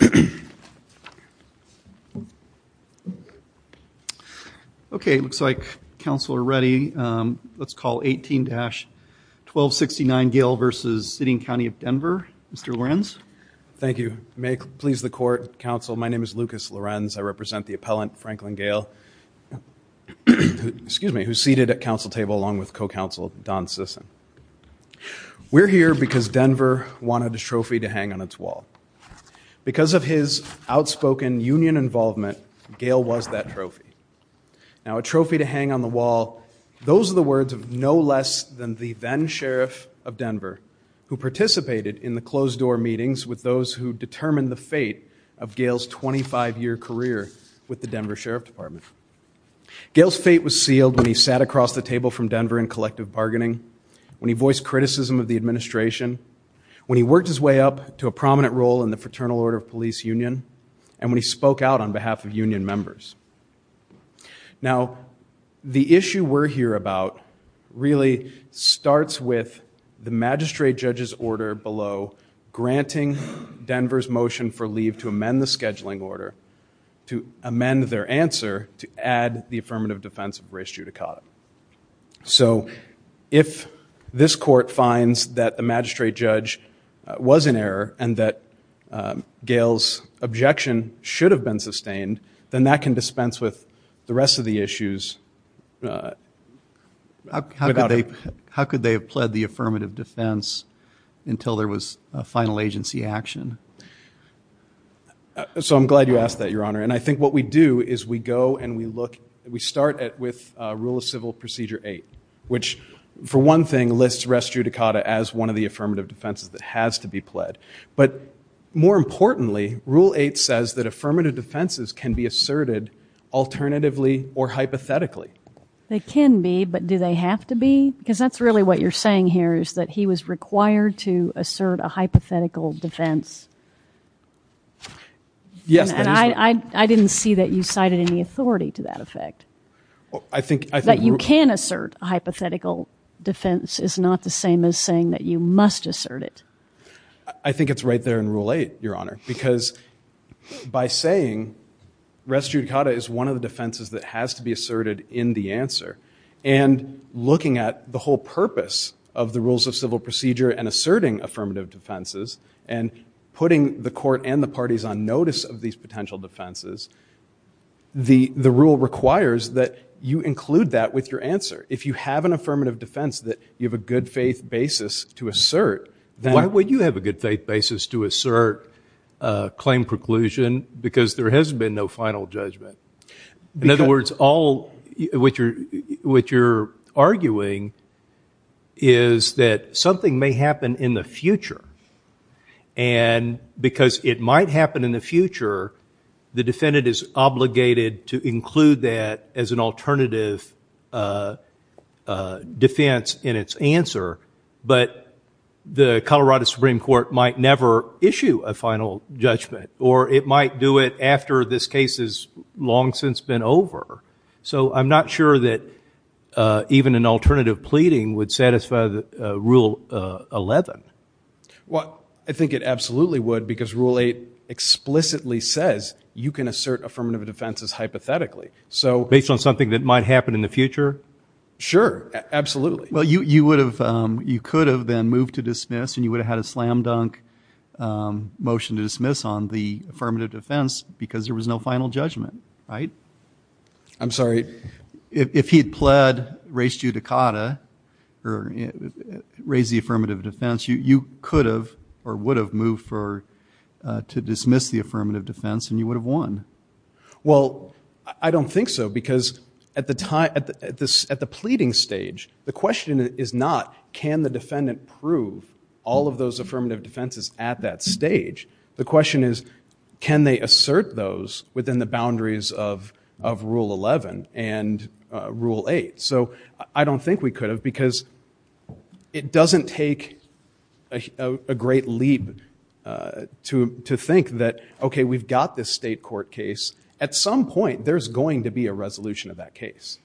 Mr. Lorenz. Thank you. May it please the court, counsel, my name is Lucas Lorenz, I represent the appellant Franklin Gale, who is seated at council table along with co-counsel Don Sisson. We're here because Denver wanted a trophy to hang on its wall. Because of his outspoken union involvement, Gale was that trophy. Now a trophy to hang on the wall, those are the words of no less than the then-Sheriff of Denver, who participated in the closed-door meetings with those who determined the fate of Gale's 25-year career with the Denver Sheriff Department. Gale's fate was sealed when he sat across the table from Denver in collective bargaining, when he voiced criticism of the administration, when he worked his way up to a prominent role in the Fraternal Order of Police Union, and when he spoke out on behalf of union members. Now the issue we're here about really starts with the magistrate judge's order below granting Denver's motion for leave to amend the scheduling order, to amend their answer to add the affirmative defense of race judicata. So, if this court finds that the magistrate judge was in error and that Gale's objection should have been sustained, then that can dispense with the rest of the issues. How could they have pled the affirmative defense until there was a final agency action? So I'm glad you asked that, Your Honor, and I think what we do is we go and we start with Rule of Civil Procedure 8, which for one thing lists race judicata as one of the affirmative defenses that has to be pled. But more importantly, Rule 8 says that affirmative defenses can be asserted alternatively or hypothetically. They can be, but do they have to be? Because that's really what you're saying here, is that he was required to assert a hypothetical defense. Yes, that is right. I didn't see that you cited any authority to that effect. I think... That you can assert a hypothetical defense is not the same as saying that you must assert it. I think it's right there in Rule 8, Your Honor, because by saying race judicata is one of the defenses that has to be asserted in the answer and looking at the whole purpose of the Rules of Civil Procedure and asserting affirmative defenses and putting the court and the parties on notice of these potential defenses, the rule requires that you include that with your answer. If you have an affirmative defense that you have a good faith basis to assert, then... Why would you have a good faith basis to assert claim preclusion? Because there has been no final judgment. Because... In other words, all what you're arguing is that something may happen in the future and because it might happen in the future, the defendant is obligated to include that as an alternative defense in its answer. But the Colorado Supreme Court might never issue a final judgment or it might do it after this case has long since been over. So I'm not sure that even an alternative pleading would satisfy Rule 11. Well, I think it absolutely would because Rule 8 explicitly says you can assert affirmative defenses hypothetically. So based on something that might happen in the future? Sure. Absolutely. Well, you would have... You could have then moved to dismiss and you would have had a slam dunk motion to dismiss on the affirmative defense because there was no final judgment, right? I'm sorry. If he had pled, raised judicata, or raised the affirmative defense, you could have or would have moved to dismiss the affirmative defense and you would have won. Well, I don't think so because at the pleading stage, the question is not can the defendant prove all of those affirmative defenses at that stage? The question is can they assert those within the boundaries of Rule 11 and Rule 8? So I don't think we could have because it doesn't take a great leap to think that, okay, we've got this state court case. At some point, there's going to be a resolution of that case.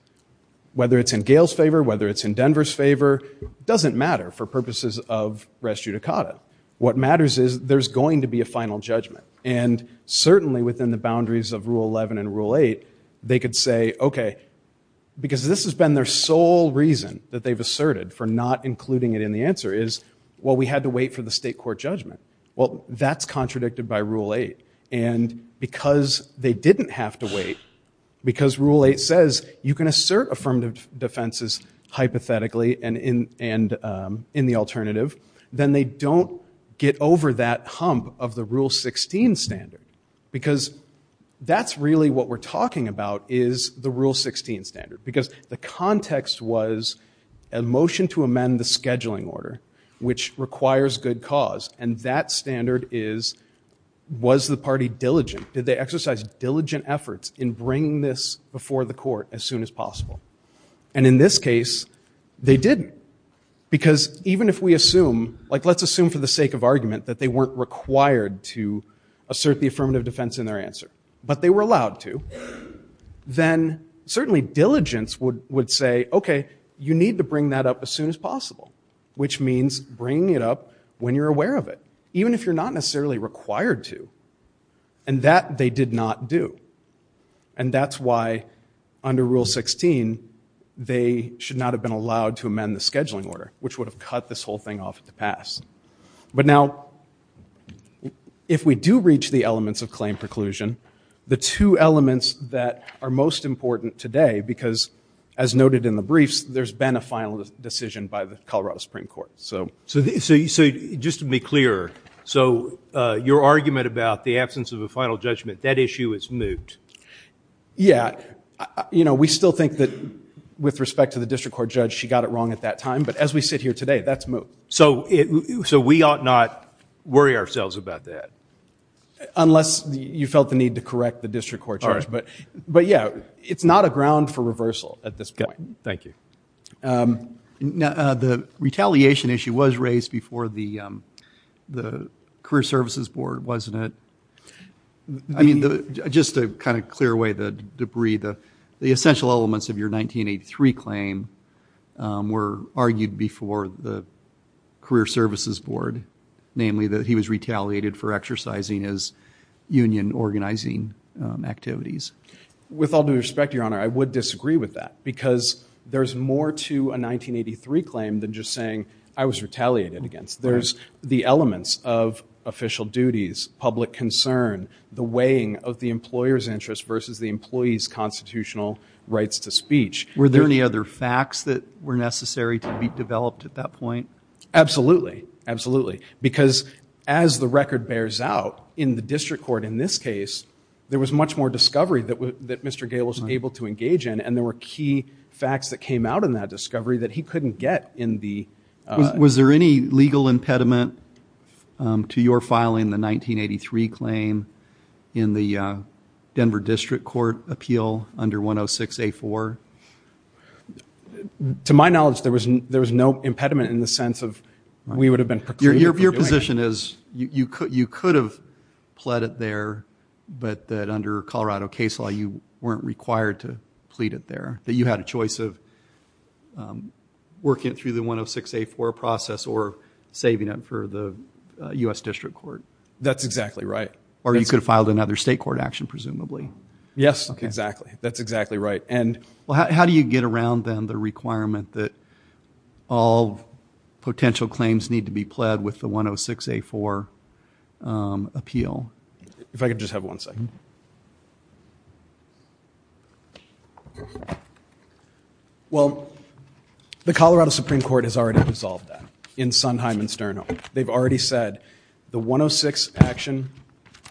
Whether it's in Gail's favor, whether it's in Denver's favor, it doesn't matter for purposes of raised judicata. What matters is there's going to be a final judgment and certainly within the boundaries of Rule 11 and Rule 8, they could say, okay, because this has been their sole reason that they've asserted for not including it in the answer is, well, we had to wait for the state court judgment. Well, that's contradicted by Rule 8 and because they didn't have to wait, because Rule 8 says you can assert affirmative defenses hypothetically and in the alternative, then they don't get over that hump of the Rule 16 standard because that's really what we're talking about is the Rule 16 standard because the context was a motion to amend the scheduling order, which requires good cause, and that standard is was the party diligent? Did they exercise diligent efforts in bringing this before the court as soon as possible? And in this case, they didn't because even if we assume, like let's assume for the sake of argument that they weren't required to assert the affirmative defense in their answer, but they were allowed to, then certainly diligence would say, okay, you need to bring that up as soon as possible, which means bringing it up when you're aware of it, even if you're not necessarily required to. And that they did not do. And that's why under Rule 16, they should not have been allowed to amend the scheduling order, which would have cut this whole thing off at the pass. But now, if we do reach the elements of claim preclusion, the two elements that are most important today, because as noted in the briefs, there's been a final decision by the Colorado Supreme Court. So just to be clear, so your argument about the absence of a final judgment, that issue is moot. Yeah. You know, we still think that with respect to the district court judge, she got it wrong at that time. But as we sit here today, that's moot. So we ought not worry ourselves about that. Unless you felt the need to correct the district court judge. But yeah, it's not a ground for reversal at this point. Thank you. Now, the retaliation issue was raised before the Career Services Board, wasn't it? I mean, just to kind of clear away the debris, the essential elements of your 1983 claim were argued before the Career Services Board. Namely that he was retaliated for exercising his union organizing activities. With all due respect, Your Honor, I would disagree with that. Because there's more to a 1983 claim than just saying, I was retaliated against. There's the elements of official duties, public concern, the weighing of the employer's interest versus the employee's constitutional rights to speech. Were there any other facts that were necessary to be developed at that point? Absolutely. Absolutely. Because as the record bears out, in the district court in this case, there was much more discovery that Mr. Gale was able to engage in. And there were key facts that came out in that discovery that he couldn't get in the... Was there any legal impediment to your filing the 1983 claim in the Denver District Court appeal under 106-A4? To my knowledge, there was no impediment in the sense of we would have been proclaiming... Your position is you could have pled it there, but that under Colorado case law, you weren't required to plead it there, that you had a choice of working it through the 106-A4 process or saving it for the U.S. District Court. That's exactly right. Or you could have filed another state court action, presumably. Yes, exactly. That's exactly right. And... All potential claims need to be pled with the 106-A4 appeal. If I could just have one second. Well, the Colorado Supreme Court has already resolved that in Sondheim and Sterno. They've already said the 106 action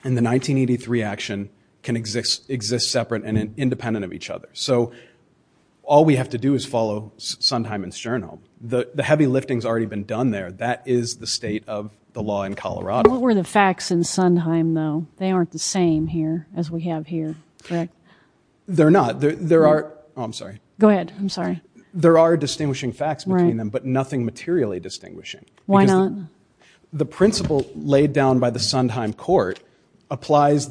and the 1983 action can exist separate and independent of each other. So all we have to do is follow Sondheim and Sterno. The heavy lifting's already been done there. That is the state of the law in Colorado. What were the facts in Sondheim, though? They aren't the same here as we have here, correct? They're not. There are... Oh, I'm sorry. Go ahead. I'm sorry. There are distinguishing facts between them, but nothing materially distinguishing. Why not? The principle laid down by the Sondheim court applies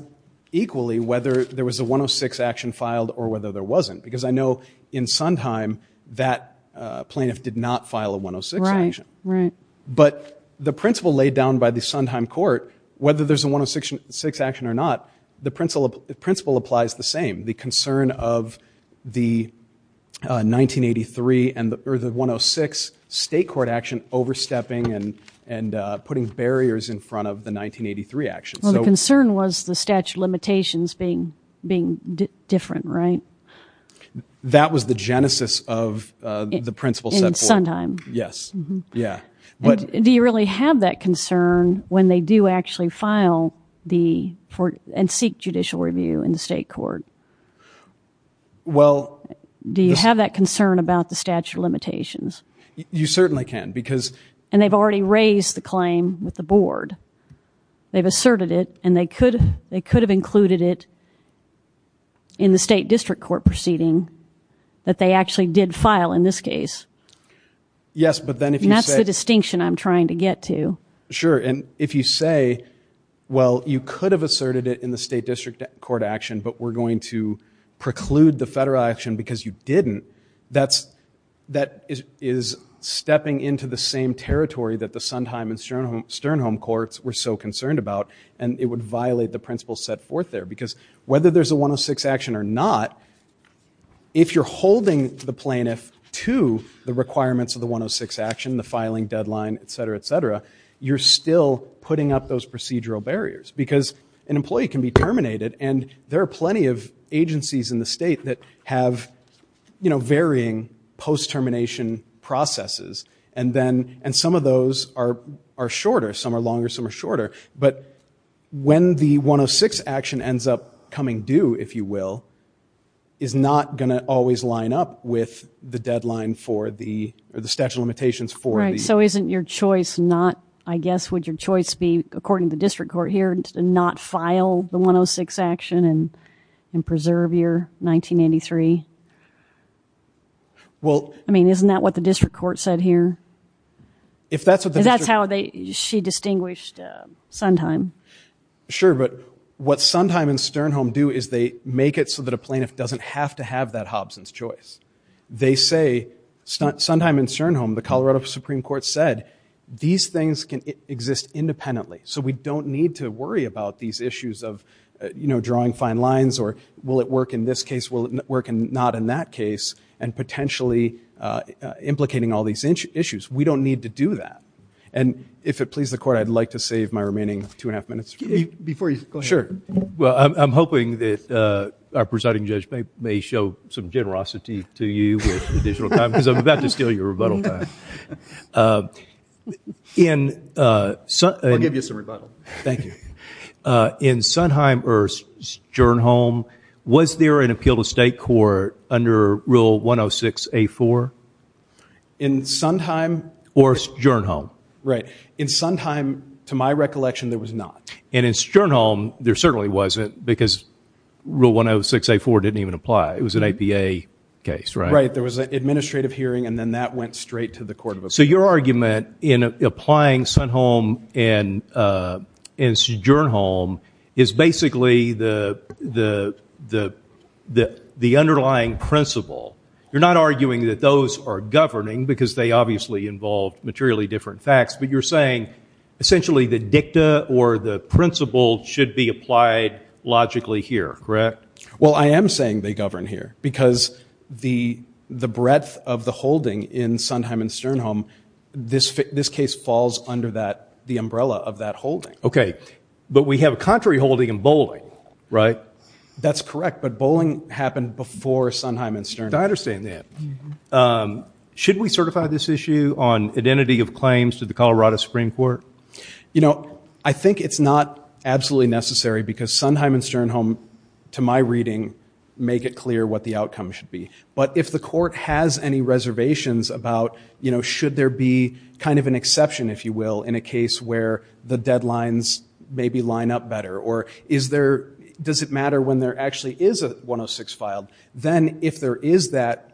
equally whether there was a 106 action filed or whether there wasn't. Because I know in Sondheim, that plaintiff did not file a 106 action. But the principle laid down by the Sondheim court, whether there's a 106 action or not, the principle applies the same. The concern of the 1983 or the 106 state court action overstepping and putting barriers in front of the 1983 action. Well, the concern was the statute of limitations being different, right? That was the genesis of the principle set forth. In Sondheim. Yes. Yeah. Do you really have that concern when they do actually file and seek judicial review in the state court? Do you have that concern about the statute of limitations? You certainly can. And they've already raised the claim with the board. They've asserted it and they could have included it in the state district court proceeding that they actually did file in this case. Yes. But then if you say... And that's the distinction I'm trying to get to. Sure. And if you say, well, you could have asserted it in the state district court action, but we're going to preclude the federal action because you didn't, that is stepping into the same territory that the Sondheim and Sternholm courts were so concerned about. And it would violate the principle set forth there. Because whether there's a 106 action or not, if you're holding the plaintiff to the requirements of the 106 action, the filing deadline, et cetera, et cetera, you're still putting up those procedural barriers because an employee can be terminated and there are plenty of And some of those are shorter, some are longer, some are shorter. But when the 106 action ends up coming due, if you will, is not going to always line up with the deadline for the statute of limitations for the... Right. So isn't your choice not... I guess, would your choice be, according to the district court here, not file the 106 action and preserve your 1983? Well... I mean, isn't that what the district court said here? If that's what the district... That's how she distinguished Sondheim. Sure, but what Sondheim and Sternholm do is they make it so that a plaintiff doesn't have to have that Hobson's choice. They say, Sondheim and Sternholm, the Colorado Supreme Court said, these things can exist independently. So we don't need to worry about these issues of, you know, drawing fine lines or will it work in this case? Will it work not in that case? And potentially implicating all these issues. We don't need to do that. And if it pleases the court, I'd like to save my remaining two and a half minutes. Before you... Go ahead. Sure. Well, I'm hoping that our presiding judge may show some generosity to you with additional time because I'm about to steal your rebuttal time. In... I'll give you some rebuttal. Thank you. In Sondheim or Sternholm, was there an appeal to state court under Rule 106A4? In Sondheim... Or Sternholm. Right. In Sondheim, to my recollection, there was not. And in Sternholm, there certainly wasn't because Rule 106A4 didn't even apply. It was an APA case, right? Right. There was an administrative hearing and then that went straight to the court of appeals. So your argument in applying Sondheim and Sternholm is basically the underlying principle. You're not arguing that those are governing because they obviously involve materially different facts. But you're saying, essentially, the dicta or the principle should be applied logically here, correct? Well, I am saying they govern here because the breadth of the holding in Sondheim and Sternholm, this case falls under the umbrella of that holding. Okay. But we have a contrary holding in bowling, right? That's correct. But bowling happened before Sondheim and Sternholm. I understand that. Should we certify this issue on identity of claims to the Colorado Supreme Court? You know, I think it's not absolutely necessary because Sondheim and Sternholm, to my reading, make it clear what the outcome should be. But if the court has any reservations about, you know, should there be kind of an exception, if you will, in a case where the deadlines maybe line up better? Or is there, does it matter when there actually is a 106 filed? Then if there is that,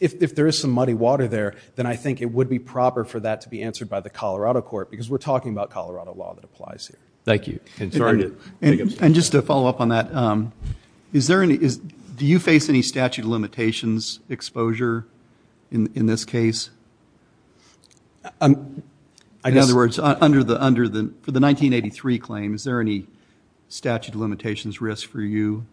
if there is some muddy water there, then I think it would be proper for that to be answered by the Colorado court because we're talking about Colorado law that applies here. Thank you. And just to follow up on that, do you face any statute of limitations exposure in this case? In other words, for the 1983 claim, is there any statute of limitations risk for you?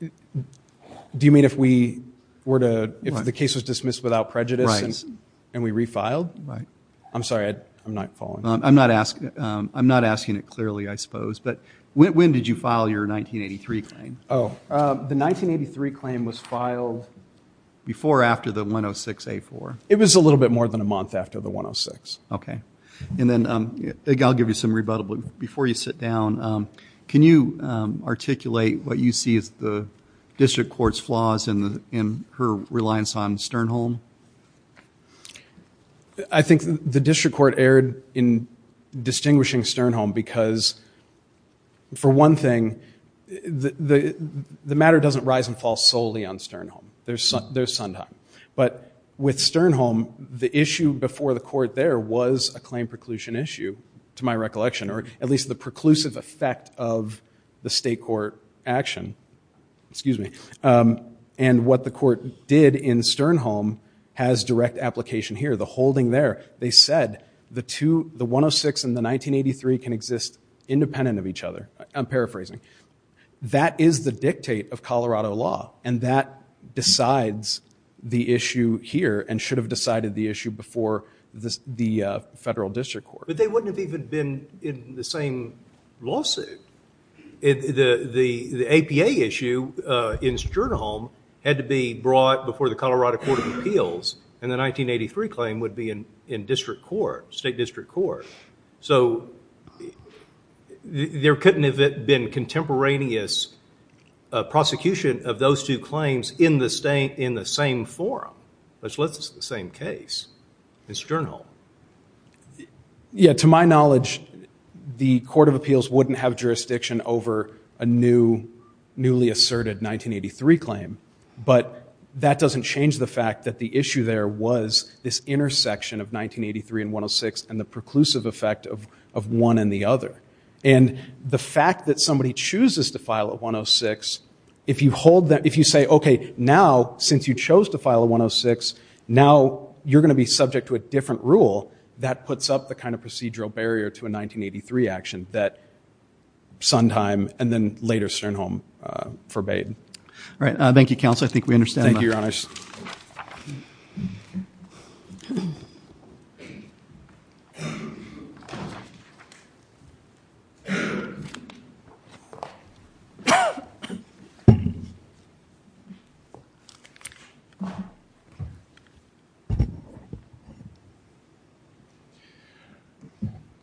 Do you mean if we were to, if the case was dismissed without prejudice and we refiled? Right. I'm sorry, I'm not following. I'm not asking it clearly, I suppose. But when did you file your 1983 claim? The 1983 claim was filed before or after the 106-A4? It was a little bit more than a month after the 106. Okay. And then I'll give you some rebuttals. Before you sit down, can you articulate what you see as the district court's flaws in her reliance on Sternholm? I think the district court erred in distinguishing Sternholm because, for one thing, the matter doesn't rise and fall solely on Sternholm. There's Sundheim. But with Sternholm, the issue before the court there was a claim preclusion issue, to my recollection, or at least the preclusive effect of the state court action. And what the court did in Sternholm has direct application here. The holding there, they said the 106 and the 1983 can exist independent of each other. I'm paraphrasing. That is the dictate of Colorado law. And that decides the issue here and should have decided the issue before the federal district court. But they wouldn't have even been in the same lawsuit. The APA issue in Sternholm had to be brought before the Colorado Court of Appeals, and the 1983 claim would be in district court, state district court. So there couldn't have been contemporaneous prosecution of those two claims in the same forum, which lists the same case in Sternholm. Yeah, to my knowledge, the Court of Appeals wouldn't have jurisdiction over a newly asserted 1983 claim, but that doesn't change the fact that the issue there was this intersection of 1983 and 106 and the preclusive effect of one and the other. And the fact that somebody chooses to file a 106, if you say, OK, now, since you chose to file a 106, now you're going to be subject to a different rule that puts up the kind of procedural barrier to a 1983 action that Sondheim and then later Sternholm forbade. All right. Thank you, counsel. I think we understand that. Thank you, Your Honors.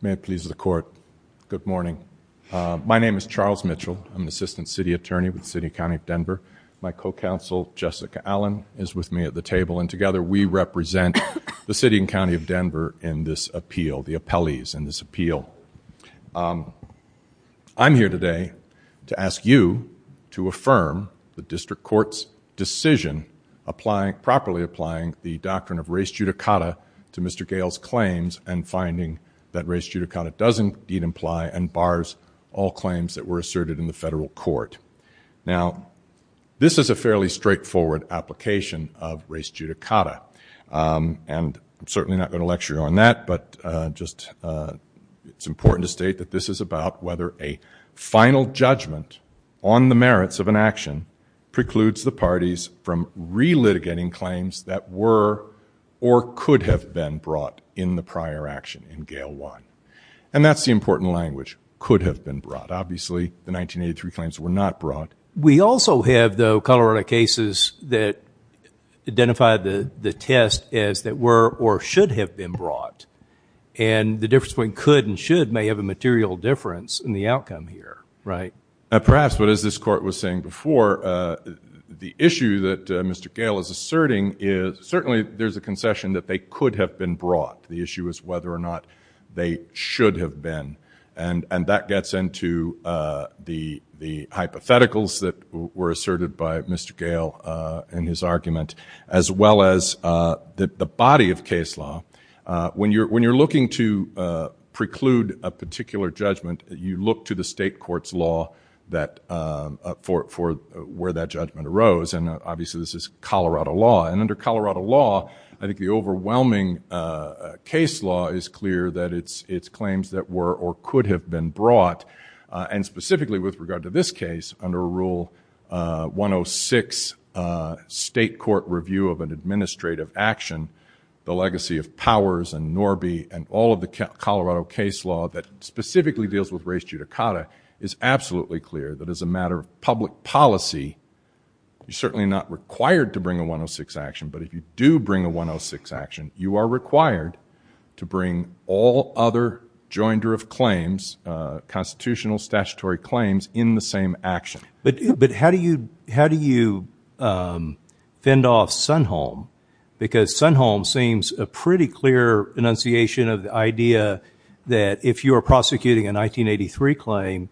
May it please the Court, good morning. My name is Charles Mitchell. I'm the Assistant City Attorney with the City, County of Denver. My co-counsel, Jessica Allen, is with me at the table, and together we represent the City and County of Denver in this appeal, the appellees in this appeal. I'm here today to ask you to affirm the district court's decision properly applying the doctrine of res judicata to Mr. Gale's claims and finding that res judicata does indeed imply and bars all claims that were asserted in the federal court. Now, this is a fairly straightforward application of res judicata, and I'm certainly not going to lecture you on that, but just it's important to state that this is about whether a final judgment on the merits of an action precludes the parties from relitigating claims that were or could have been brought in the prior action in Gale 1. And that's the important language, could have been brought. Obviously, the 1983 claims were not brought. We also have, though, Colorado cases that identify the test as that were or should have been brought, and the difference between could and should may have a material difference in the outcome here, right? Perhaps, but as this court was saying before, the issue that Mr. Gale is asserting is certainly there's a concession that they could have been brought. The issue is whether or not they should have been, and that gets into the hypotheticals that were asserted by Mr. Gale in his argument, as well as the body of case law. When you're looking to preclude a particular judgment, you look to the state court's law for where that judgment arose, and obviously, this is Colorado law. And under Colorado law, I think the overwhelming case law is clear that it's claims that were or could have been brought, and specifically with regard to this case, under Rule 106, state court review of an administrative action, the legacy of Powers and Norby and all of the Colorado case law that specifically deals with res judicata is absolutely clear that as a matter of public policy, you're certainly not required to bring a 106 action, but if you do bring a 106 action, you are required to bring all other joinder of claims, constitutional statutory claims, in the same action. But how do you fend off Sunholm? Because Sunholm seems a pretty clear enunciation of the idea that if you're prosecuting a 1983 claim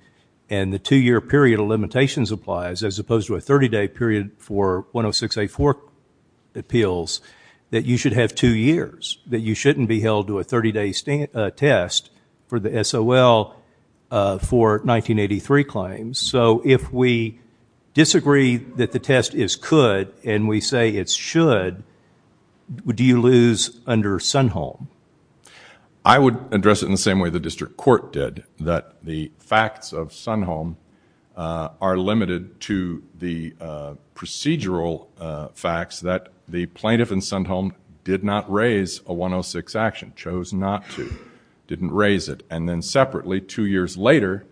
and the two-year period of limitations applies, as opposed to a 30-day period for 106A4 appeals, that you should have two years, that you shouldn't be held to a 30-day test for the SOL for 1983 claims. So if we disagree that the test is could and we say it's should, do you lose under Sunholm? I would address it in the same way the district court did, that the facts of Sunholm are limited to the procedural facts that the plaintiff in Sunholm did not raise a 106 action, chose not to, didn't raise it, and then separately, two years later,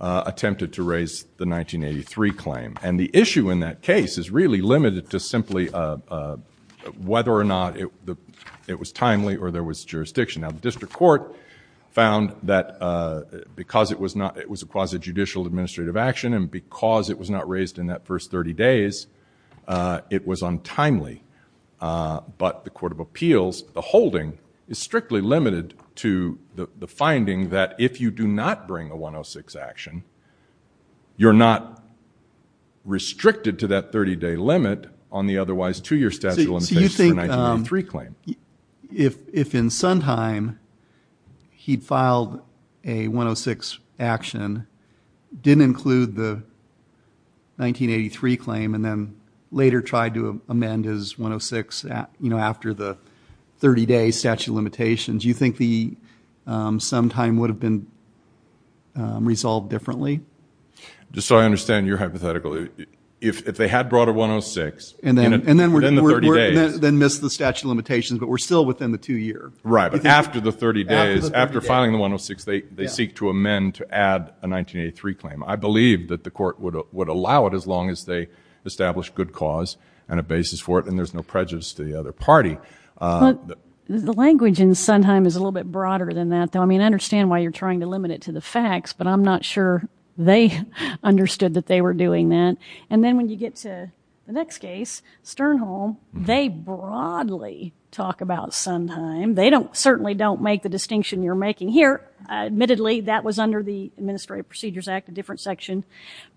attempted to raise the 1983 claim. And the issue in that case is really limited to simply whether or not it was timely or there was jurisdiction. Now, the district court found that because it was a quasi-judicial administrative action and because it was not raised in that first 30 days, it was untimely. But the court of appeals, the holding, is strictly limited to the finding that if you do not bring a 106 action, you're not restricted to that 30-day limit on the otherwise two-year statute of limitations for the 1983 claim. So you think if in Sondheim, he'd filed a 106 action, didn't include the 1983 claim, and then later tried to amend his 106 after the 30-day statute of limitations, do you think the sometime would have been resolved differently? Just so I understand your hypothetical, if they had brought a 106, and then the 30-day statute of limitations, then missed the statute of limitations, but we're still within the two-year. Right. But after the 30 days, after filing the 106, they seek to amend to add a 1983 claim. I believe that the court would allow it as long as they establish good cause and a basis for it, and there's no prejudice to the other party. The language in Sondheim is a little bit broader than that, though. I mean, I understand why you're trying to limit it to the facts, but I'm not sure they understood that they were doing that. And then when you get to the next case, Sternholm, they broadly talk about Sondheim. They don't, certainly don't make the distinction you're making here. Admittedly, that was under the Administrative Procedures Act, a different section.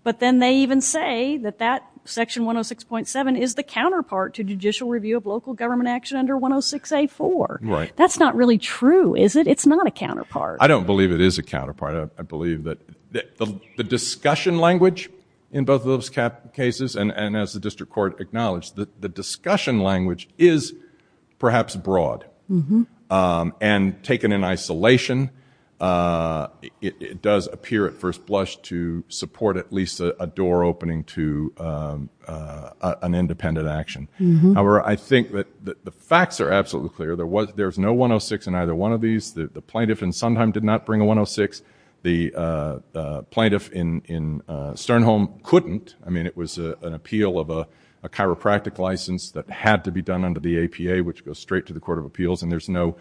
But then they even say that that section 106.7 is the counterpart to judicial review of local government action under 106A4. Right. That's not really true, is it? It's not a counterpart. I don't believe it is a counterpart. I believe that the discussion language in both of those cases, and as the District Court acknowledged, the discussion language is perhaps broad. And taken in isolation, it does appear at first blush to support at least a door opening to an independent action. However, I think that the facts are absolutely clear. There was no 106 in either one of these. The plaintiff in Sondheim did not bring a 106. The plaintiff in Sternholm couldn't. I mean, it was an appeal of a chiropractic license that had to be done under the APA, which goes straight to the Court of Appeals. And there's no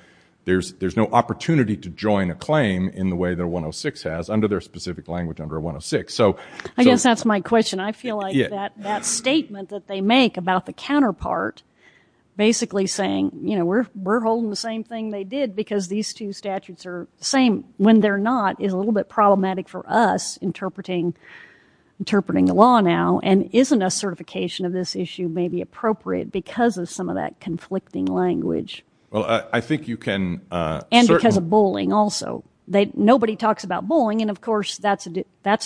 opportunity to join a claim in the way that a 106 has under their specific language under 106. I guess that's my question. I feel like that statement that they make about the counterpart basically saying, you know, we're holding the same thing they did because these two are problematic for us interpreting the law now. And isn't a certification of this issue maybe appropriate because of some of that conflicting language? Well, I think you can... And because of bullying also. Nobody talks about bullying. And of course, that's the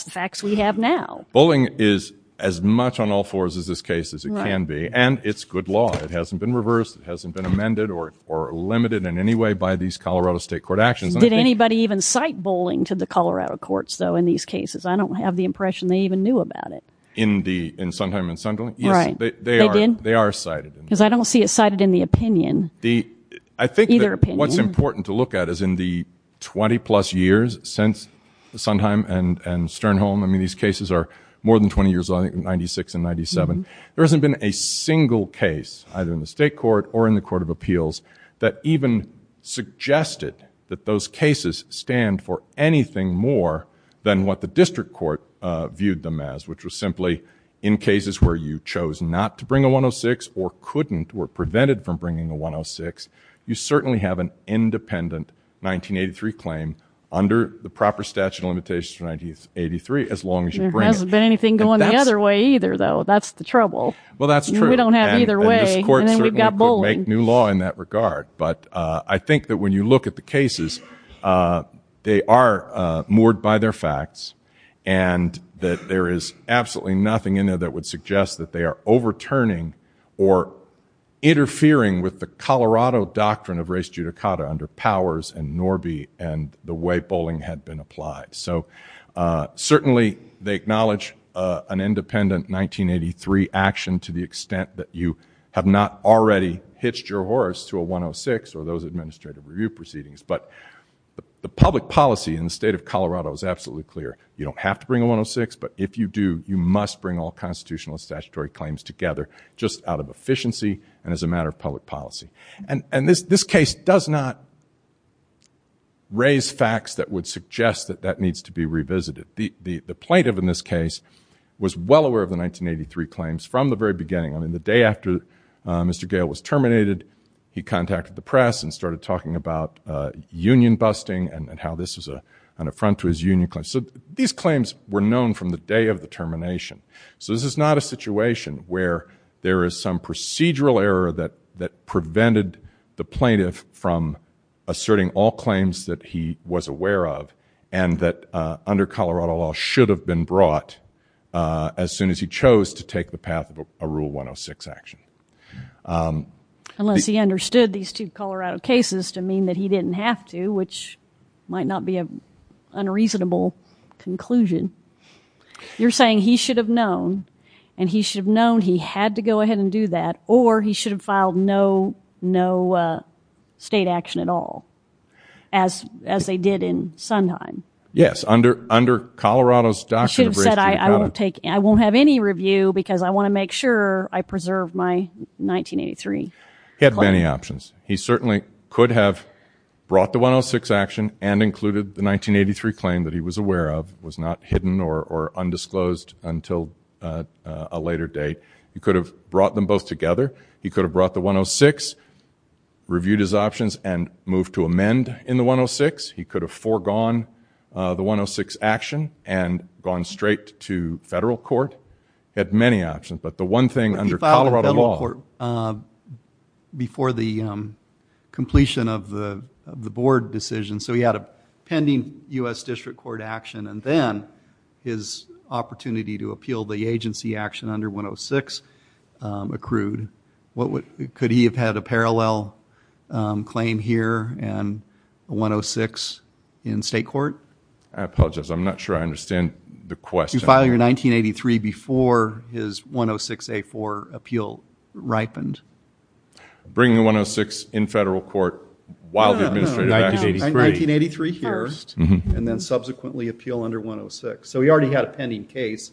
facts we have now. Bullying is as much on all fours as this case as it can be. And it's good law. It hasn't been reversed. It hasn't been amended or limited in any way by these Colorado State Court actions. Did anybody even cite bullying to the Colorado courts, though, in these cases? I don't have the impression they even knew about it. In Sondheim and Sunderland? Right. They did? They are cited. Because I don't see it cited in the opinion. I think what's important to look at is in the 20 plus years since Sondheim and Sternholm, I mean, these cases are more than 20 years old, I think, in 96 and 97. There hasn't been a single case, either in the state court or in the Court of Appeals, that even suggested that those cases stand for anything more than what the district court viewed them as, which was simply in cases where you chose not to bring a 106 or couldn't or prevented from bringing a 106, you certainly have an independent 1983 claim under the proper statute of limitations for 1983 as long as you bring it. There hasn't been anything going the other way either, though. That's the trouble. Well, that's true. We don't have either way. And then we've got bullying. And this court certainly could make new law in that regard. But I think that when you look at the cases, they are moored by their facts and that there is absolutely nothing in there that would suggest that they are overturning or interfering with the Colorado doctrine of res judicata under Powers and Norby and the way bullying had been applied. So certainly they acknowledge an independent 1983 action to the extent that you have not already hitched your horse to a 106 or those administrative review proceedings. But the public policy in the state of Colorado is absolutely clear. You don't have to bring a 106, but if you do, you must bring all constitutional and statutory claims together just out of efficiency and as a matter of public policy. And this case does not raise facts that would suggest that that needs to be revisited. The plaintiff in this case was well aware of the 1983 claims from the very beginning. I mean, the day after Mr. Gale was terminated, he contacted the press and started talking about union busting and how this was an affront to his union claims. So these claims were known from the day of the termination. So this is not a situation where there is some procedural error that prevented the plaintiff from asserting all claims that he was aware of and that under Colorado law should have been brought as soon as he chose to take the 106 action. Unless he understood these two Colorado cases to mean that he didn't have to, which might not be an unreasonable conclusion. You're saying he should have known and he should have known he had to go ahead and do that, or he should have filed no state action at all as they did in Sondheim. Yes, under Colorado's doctrine of race to the counter. I won't have any review because I want to make sure I preserve my 1983. He had many options. He certainly could have brought the 106 action and included the 1983 claim that he was aware of, was not hidden or undisclosed until a later date. He could have brought them both together. He could have brought the 106, reviewed his options and moved to amend in the 106. He could have foregone the 106 action and gone straight to federal court. He had many options, but the one thing under Colorado law... He filed in federal court before the completion of the board decision, so he had a pending U.S. District Court action and then his opportunity to appeal the agency action under 106 accrued. Could he have had a parallel claim here and a 106 in state court? I apologize. I'm not sure I understand the question. He filed here in 1983 before his 106A4 appeal ripened. Bring the 106 in federal court while the Administrative Act is in effect. 1983 here and then subsequently appeal under 106. He already had a pending case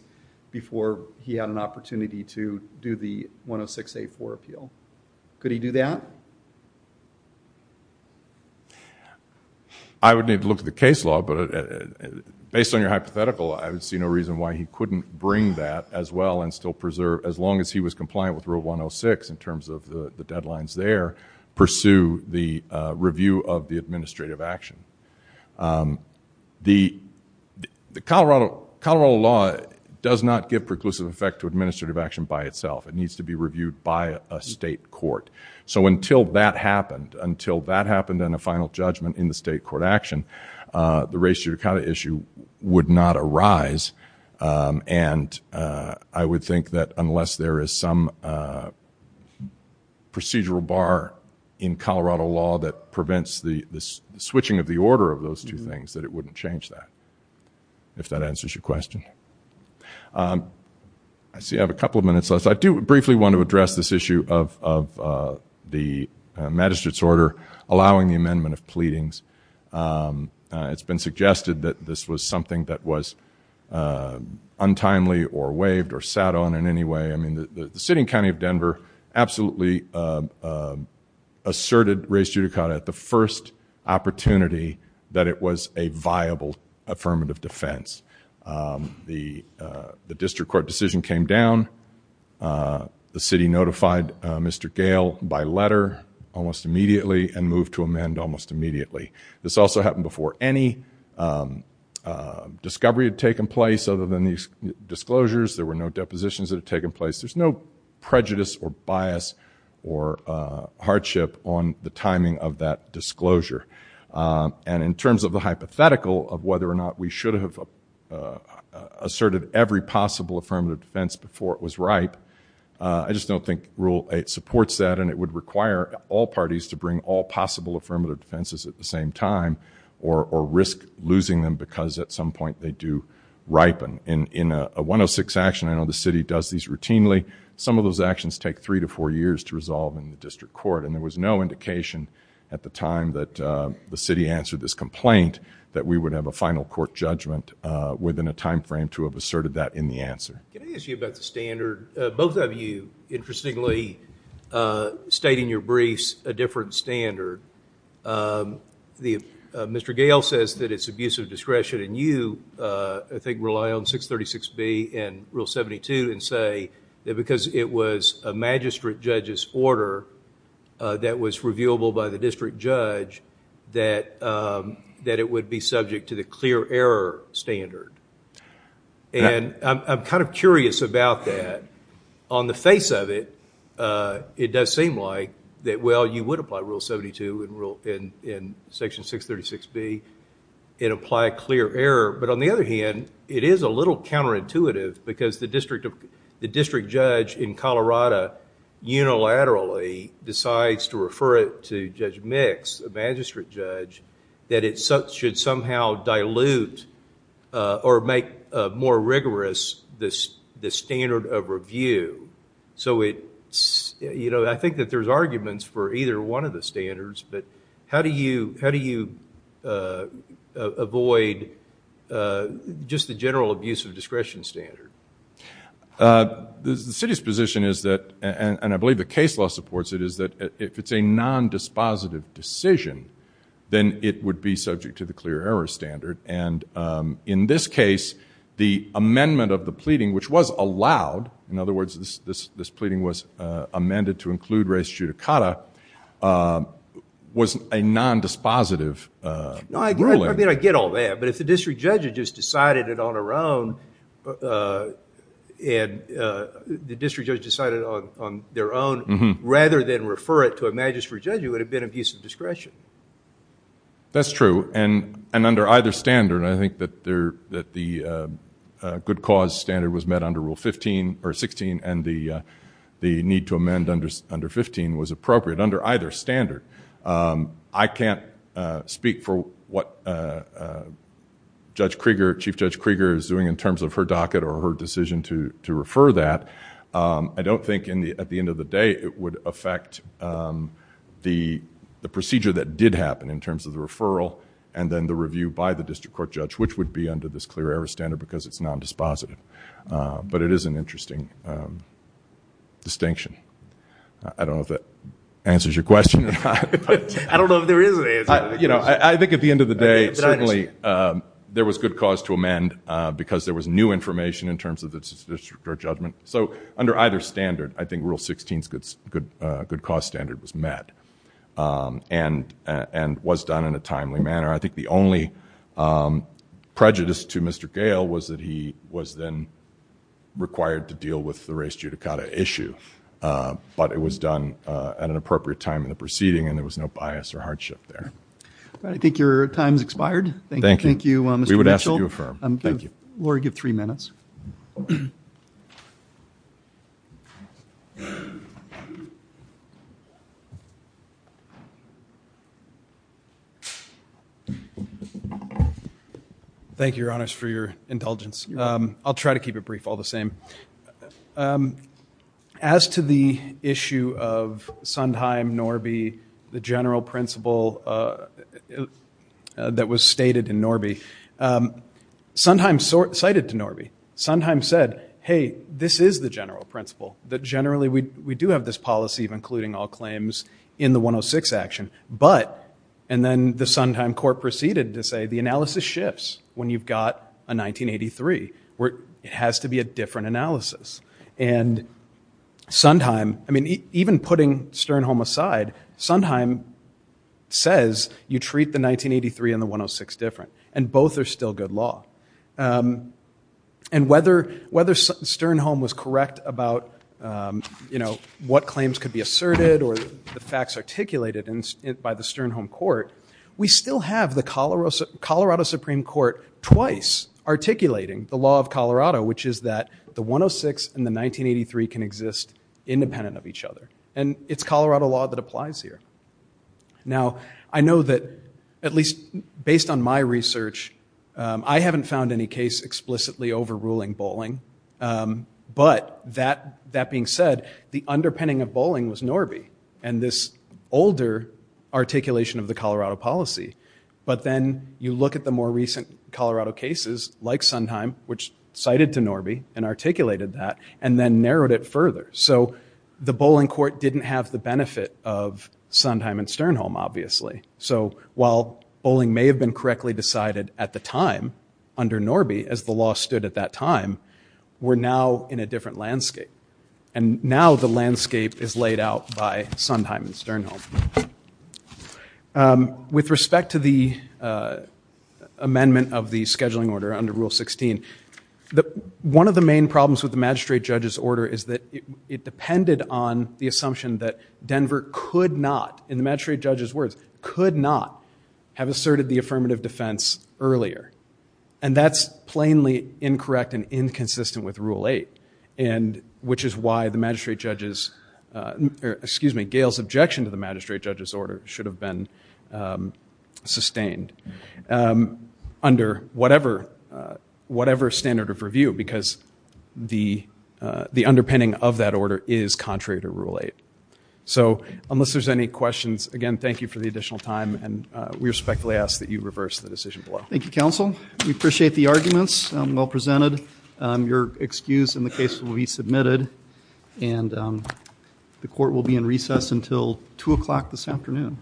before he had an opportunity to do the 106A4 appeal. Could he do that? I would need to look at the case law, but based on your hypothetical, I would see no reason why he couldn't bring that as well and still preserve as long as he was compliant with rule 106 in terms of the deadlines there, pursue the review of the administrative action. The Colorado law does not give preclusive effect to administrative action by itself. It needs to be reviewed by a state court. So until that happened, until that happened and a final judgment in the state court action, the race-judicata issue would not arise and I would think that unless there is some procedural bar in Colorado law that prevents the switching of the order of those two things that it wouldn't change that, if that answers your question. I see I have a couple of minutes left. I do briefly want to address this issue of the magistrate's order allowing the amendment of pleadings. It's been suggested that this was something that was untimely or waived or sat on in any way. I mean, the sitting county of Denver absolutely asserted race-judicata at the first opportunity that it was a viable affirmative defense. The district court decision came down. The city notified Mr. Gale by letter almost immediately and moved to amend almost immediately. This also happened before any discovery had taken place other than these disclosures. There were no depositions that had taken place. There's no prejudice or bias or hardship on the timing of that disclosure. And in terms of the hypothetical of whether or not we should have asserted every possible affirmative defense before it was ripe, I just don't think Rule 8 supports that and it would require all parties to bring all possible affirmative defenses at the same time or risk losing them because at some point they do ripen. In a 106 action, I know the city does these routinely, some of those actions take three to four years to resolve in the city answer this complaint that we would have a final court judgment within a time frame to have asserted that in the answer. Can I ask you about the standard? Both of you, interestingly, state in your briefs a different standard. Mr. Gale says that it's abuse of discretion and you, I think, rely on 636B and Rule 72 and say that because it was a magistrate judge's order that was reviewable by the district judge that it would be subject to the clear error standard. And I'm kind of curious about that. On the face of it, it does seem like that, well, you would apply Rule 72 in Section 636B and apply clear error, but on the other hand, it is a little counterintuitive because the district judge in Colorado unilaterally decides to refer it to Judge Mix, a magistrate judge, that it should somehow dilute or make more rigorous the standard of review. I think that there's arguments for either one of the standards, but how do you avoid just the general abuse of discretion standard? The city's position is that, and I believe the case law supports it, is that if it's a non-dispositive decision, then it would be subject to the clear error standard. And in this case, the amendment of the pleading, which was allowed, in other words, this pleading was amended to include res judicata, was a non-dispositive ruling. No, I get all that, but if the district judge had just decided it on their own rather than refer it to a magistrate judge, it would have been abuse of discretion. That's true, and under either standard, I think that the good cause standard was met under Rule 16 and the need to amend under 15 was appropriate under either standard. I can't speak for what Chief Judge Krieger is doing in terms of her docket or her decision to refer that. I don't think at the end of the day it would affect the procedure that did happen in terms of the referral and then the review by the district court judge, which would be under this clear error standard because it's non-dispositive, but it is an interesting distinction. I don't know if that answers your question. I don't know if there is an answer. I think at the end of the day, certainly there was good cause to amend because there was new information in terms of the district court judgment. So under either standard, I think Rule 16's good cause standard was met and was done in a timely manner. I think the only prejudice to Mr. Gale was that he was then required to deal with the race judicata issue, but it was done at an appropriate time in the proceeding and there was no bias or hardship there. I think your time has expired. Thank you, Mr. Mitchell. We would ask that you affirm. Thank you, Your Honors, for your indulgence. I'll try to keep it brief, all the same. As to the issue of Sondheim, Norby, the general principle that was stated in Norby, Sondheim cited to Norby. Sondheim said, hey, this is the general principle, that generally we do have this policy of including all claims in the 106 action, but, and then the Sondheim court proceeded to say the analysis shifts when you've got a 1983, where it has to be a different analysis. And Sondheim, I mean, even putting Sternholm aside, Sondheim says you treat the 1983 and the 106 different, and both are still good law. And whether Sternholm was correct about, you know, what claims could be asserted or the facts articulated by the Sondheim, you have the Colorado Supreme Court twice articulating the law of Colorado, which is that the 106 and the 1983 can exist independent of each other. And it's Colorado law that applies here. Now, I know that, at least based on my research, I haven't found any case explicitly overruling bowling, but that being said, the underpinning of bowling was Norby. And this older articulation of the Colorado policy, but then you look at the more recent Colorado cases, like Sondheim, which cited to Norby and articulated that, and then narrowed it further. So the bowling court didn't have the benefit of Sondheim and Sternholm, obviously. So while bowling may have been correctly decided at the time under Norby, as the law stood at that time, we're now in a different landscape. And now the landscape is laid out by Sondheim and Sternholm. With respect to the amendment of the scheduling order under Rule 16, one of the main problems with the magistrate judge's order is that it depended on the assumption that Denver could not, in the magistrate judge's words, could not have asserted the affirmative defense earlier. And that's plainly incorrect and inconsistent with Rule 8, which is why the magistrate judge's, excuse me, Gail's objection to the magistrate judge's order should have been sustained under whatever standard of review, because the underpinning of that order is contrary to Rule 8. So unless there's any questions, again, thank you for the additional time, and we respectfully ask that you reverse the decision below. Thank you, counsel. We appreciate the arguments well presented. Your excuse in the case will be submitted, and the court will be in recess until 2 o'clock this afternoon.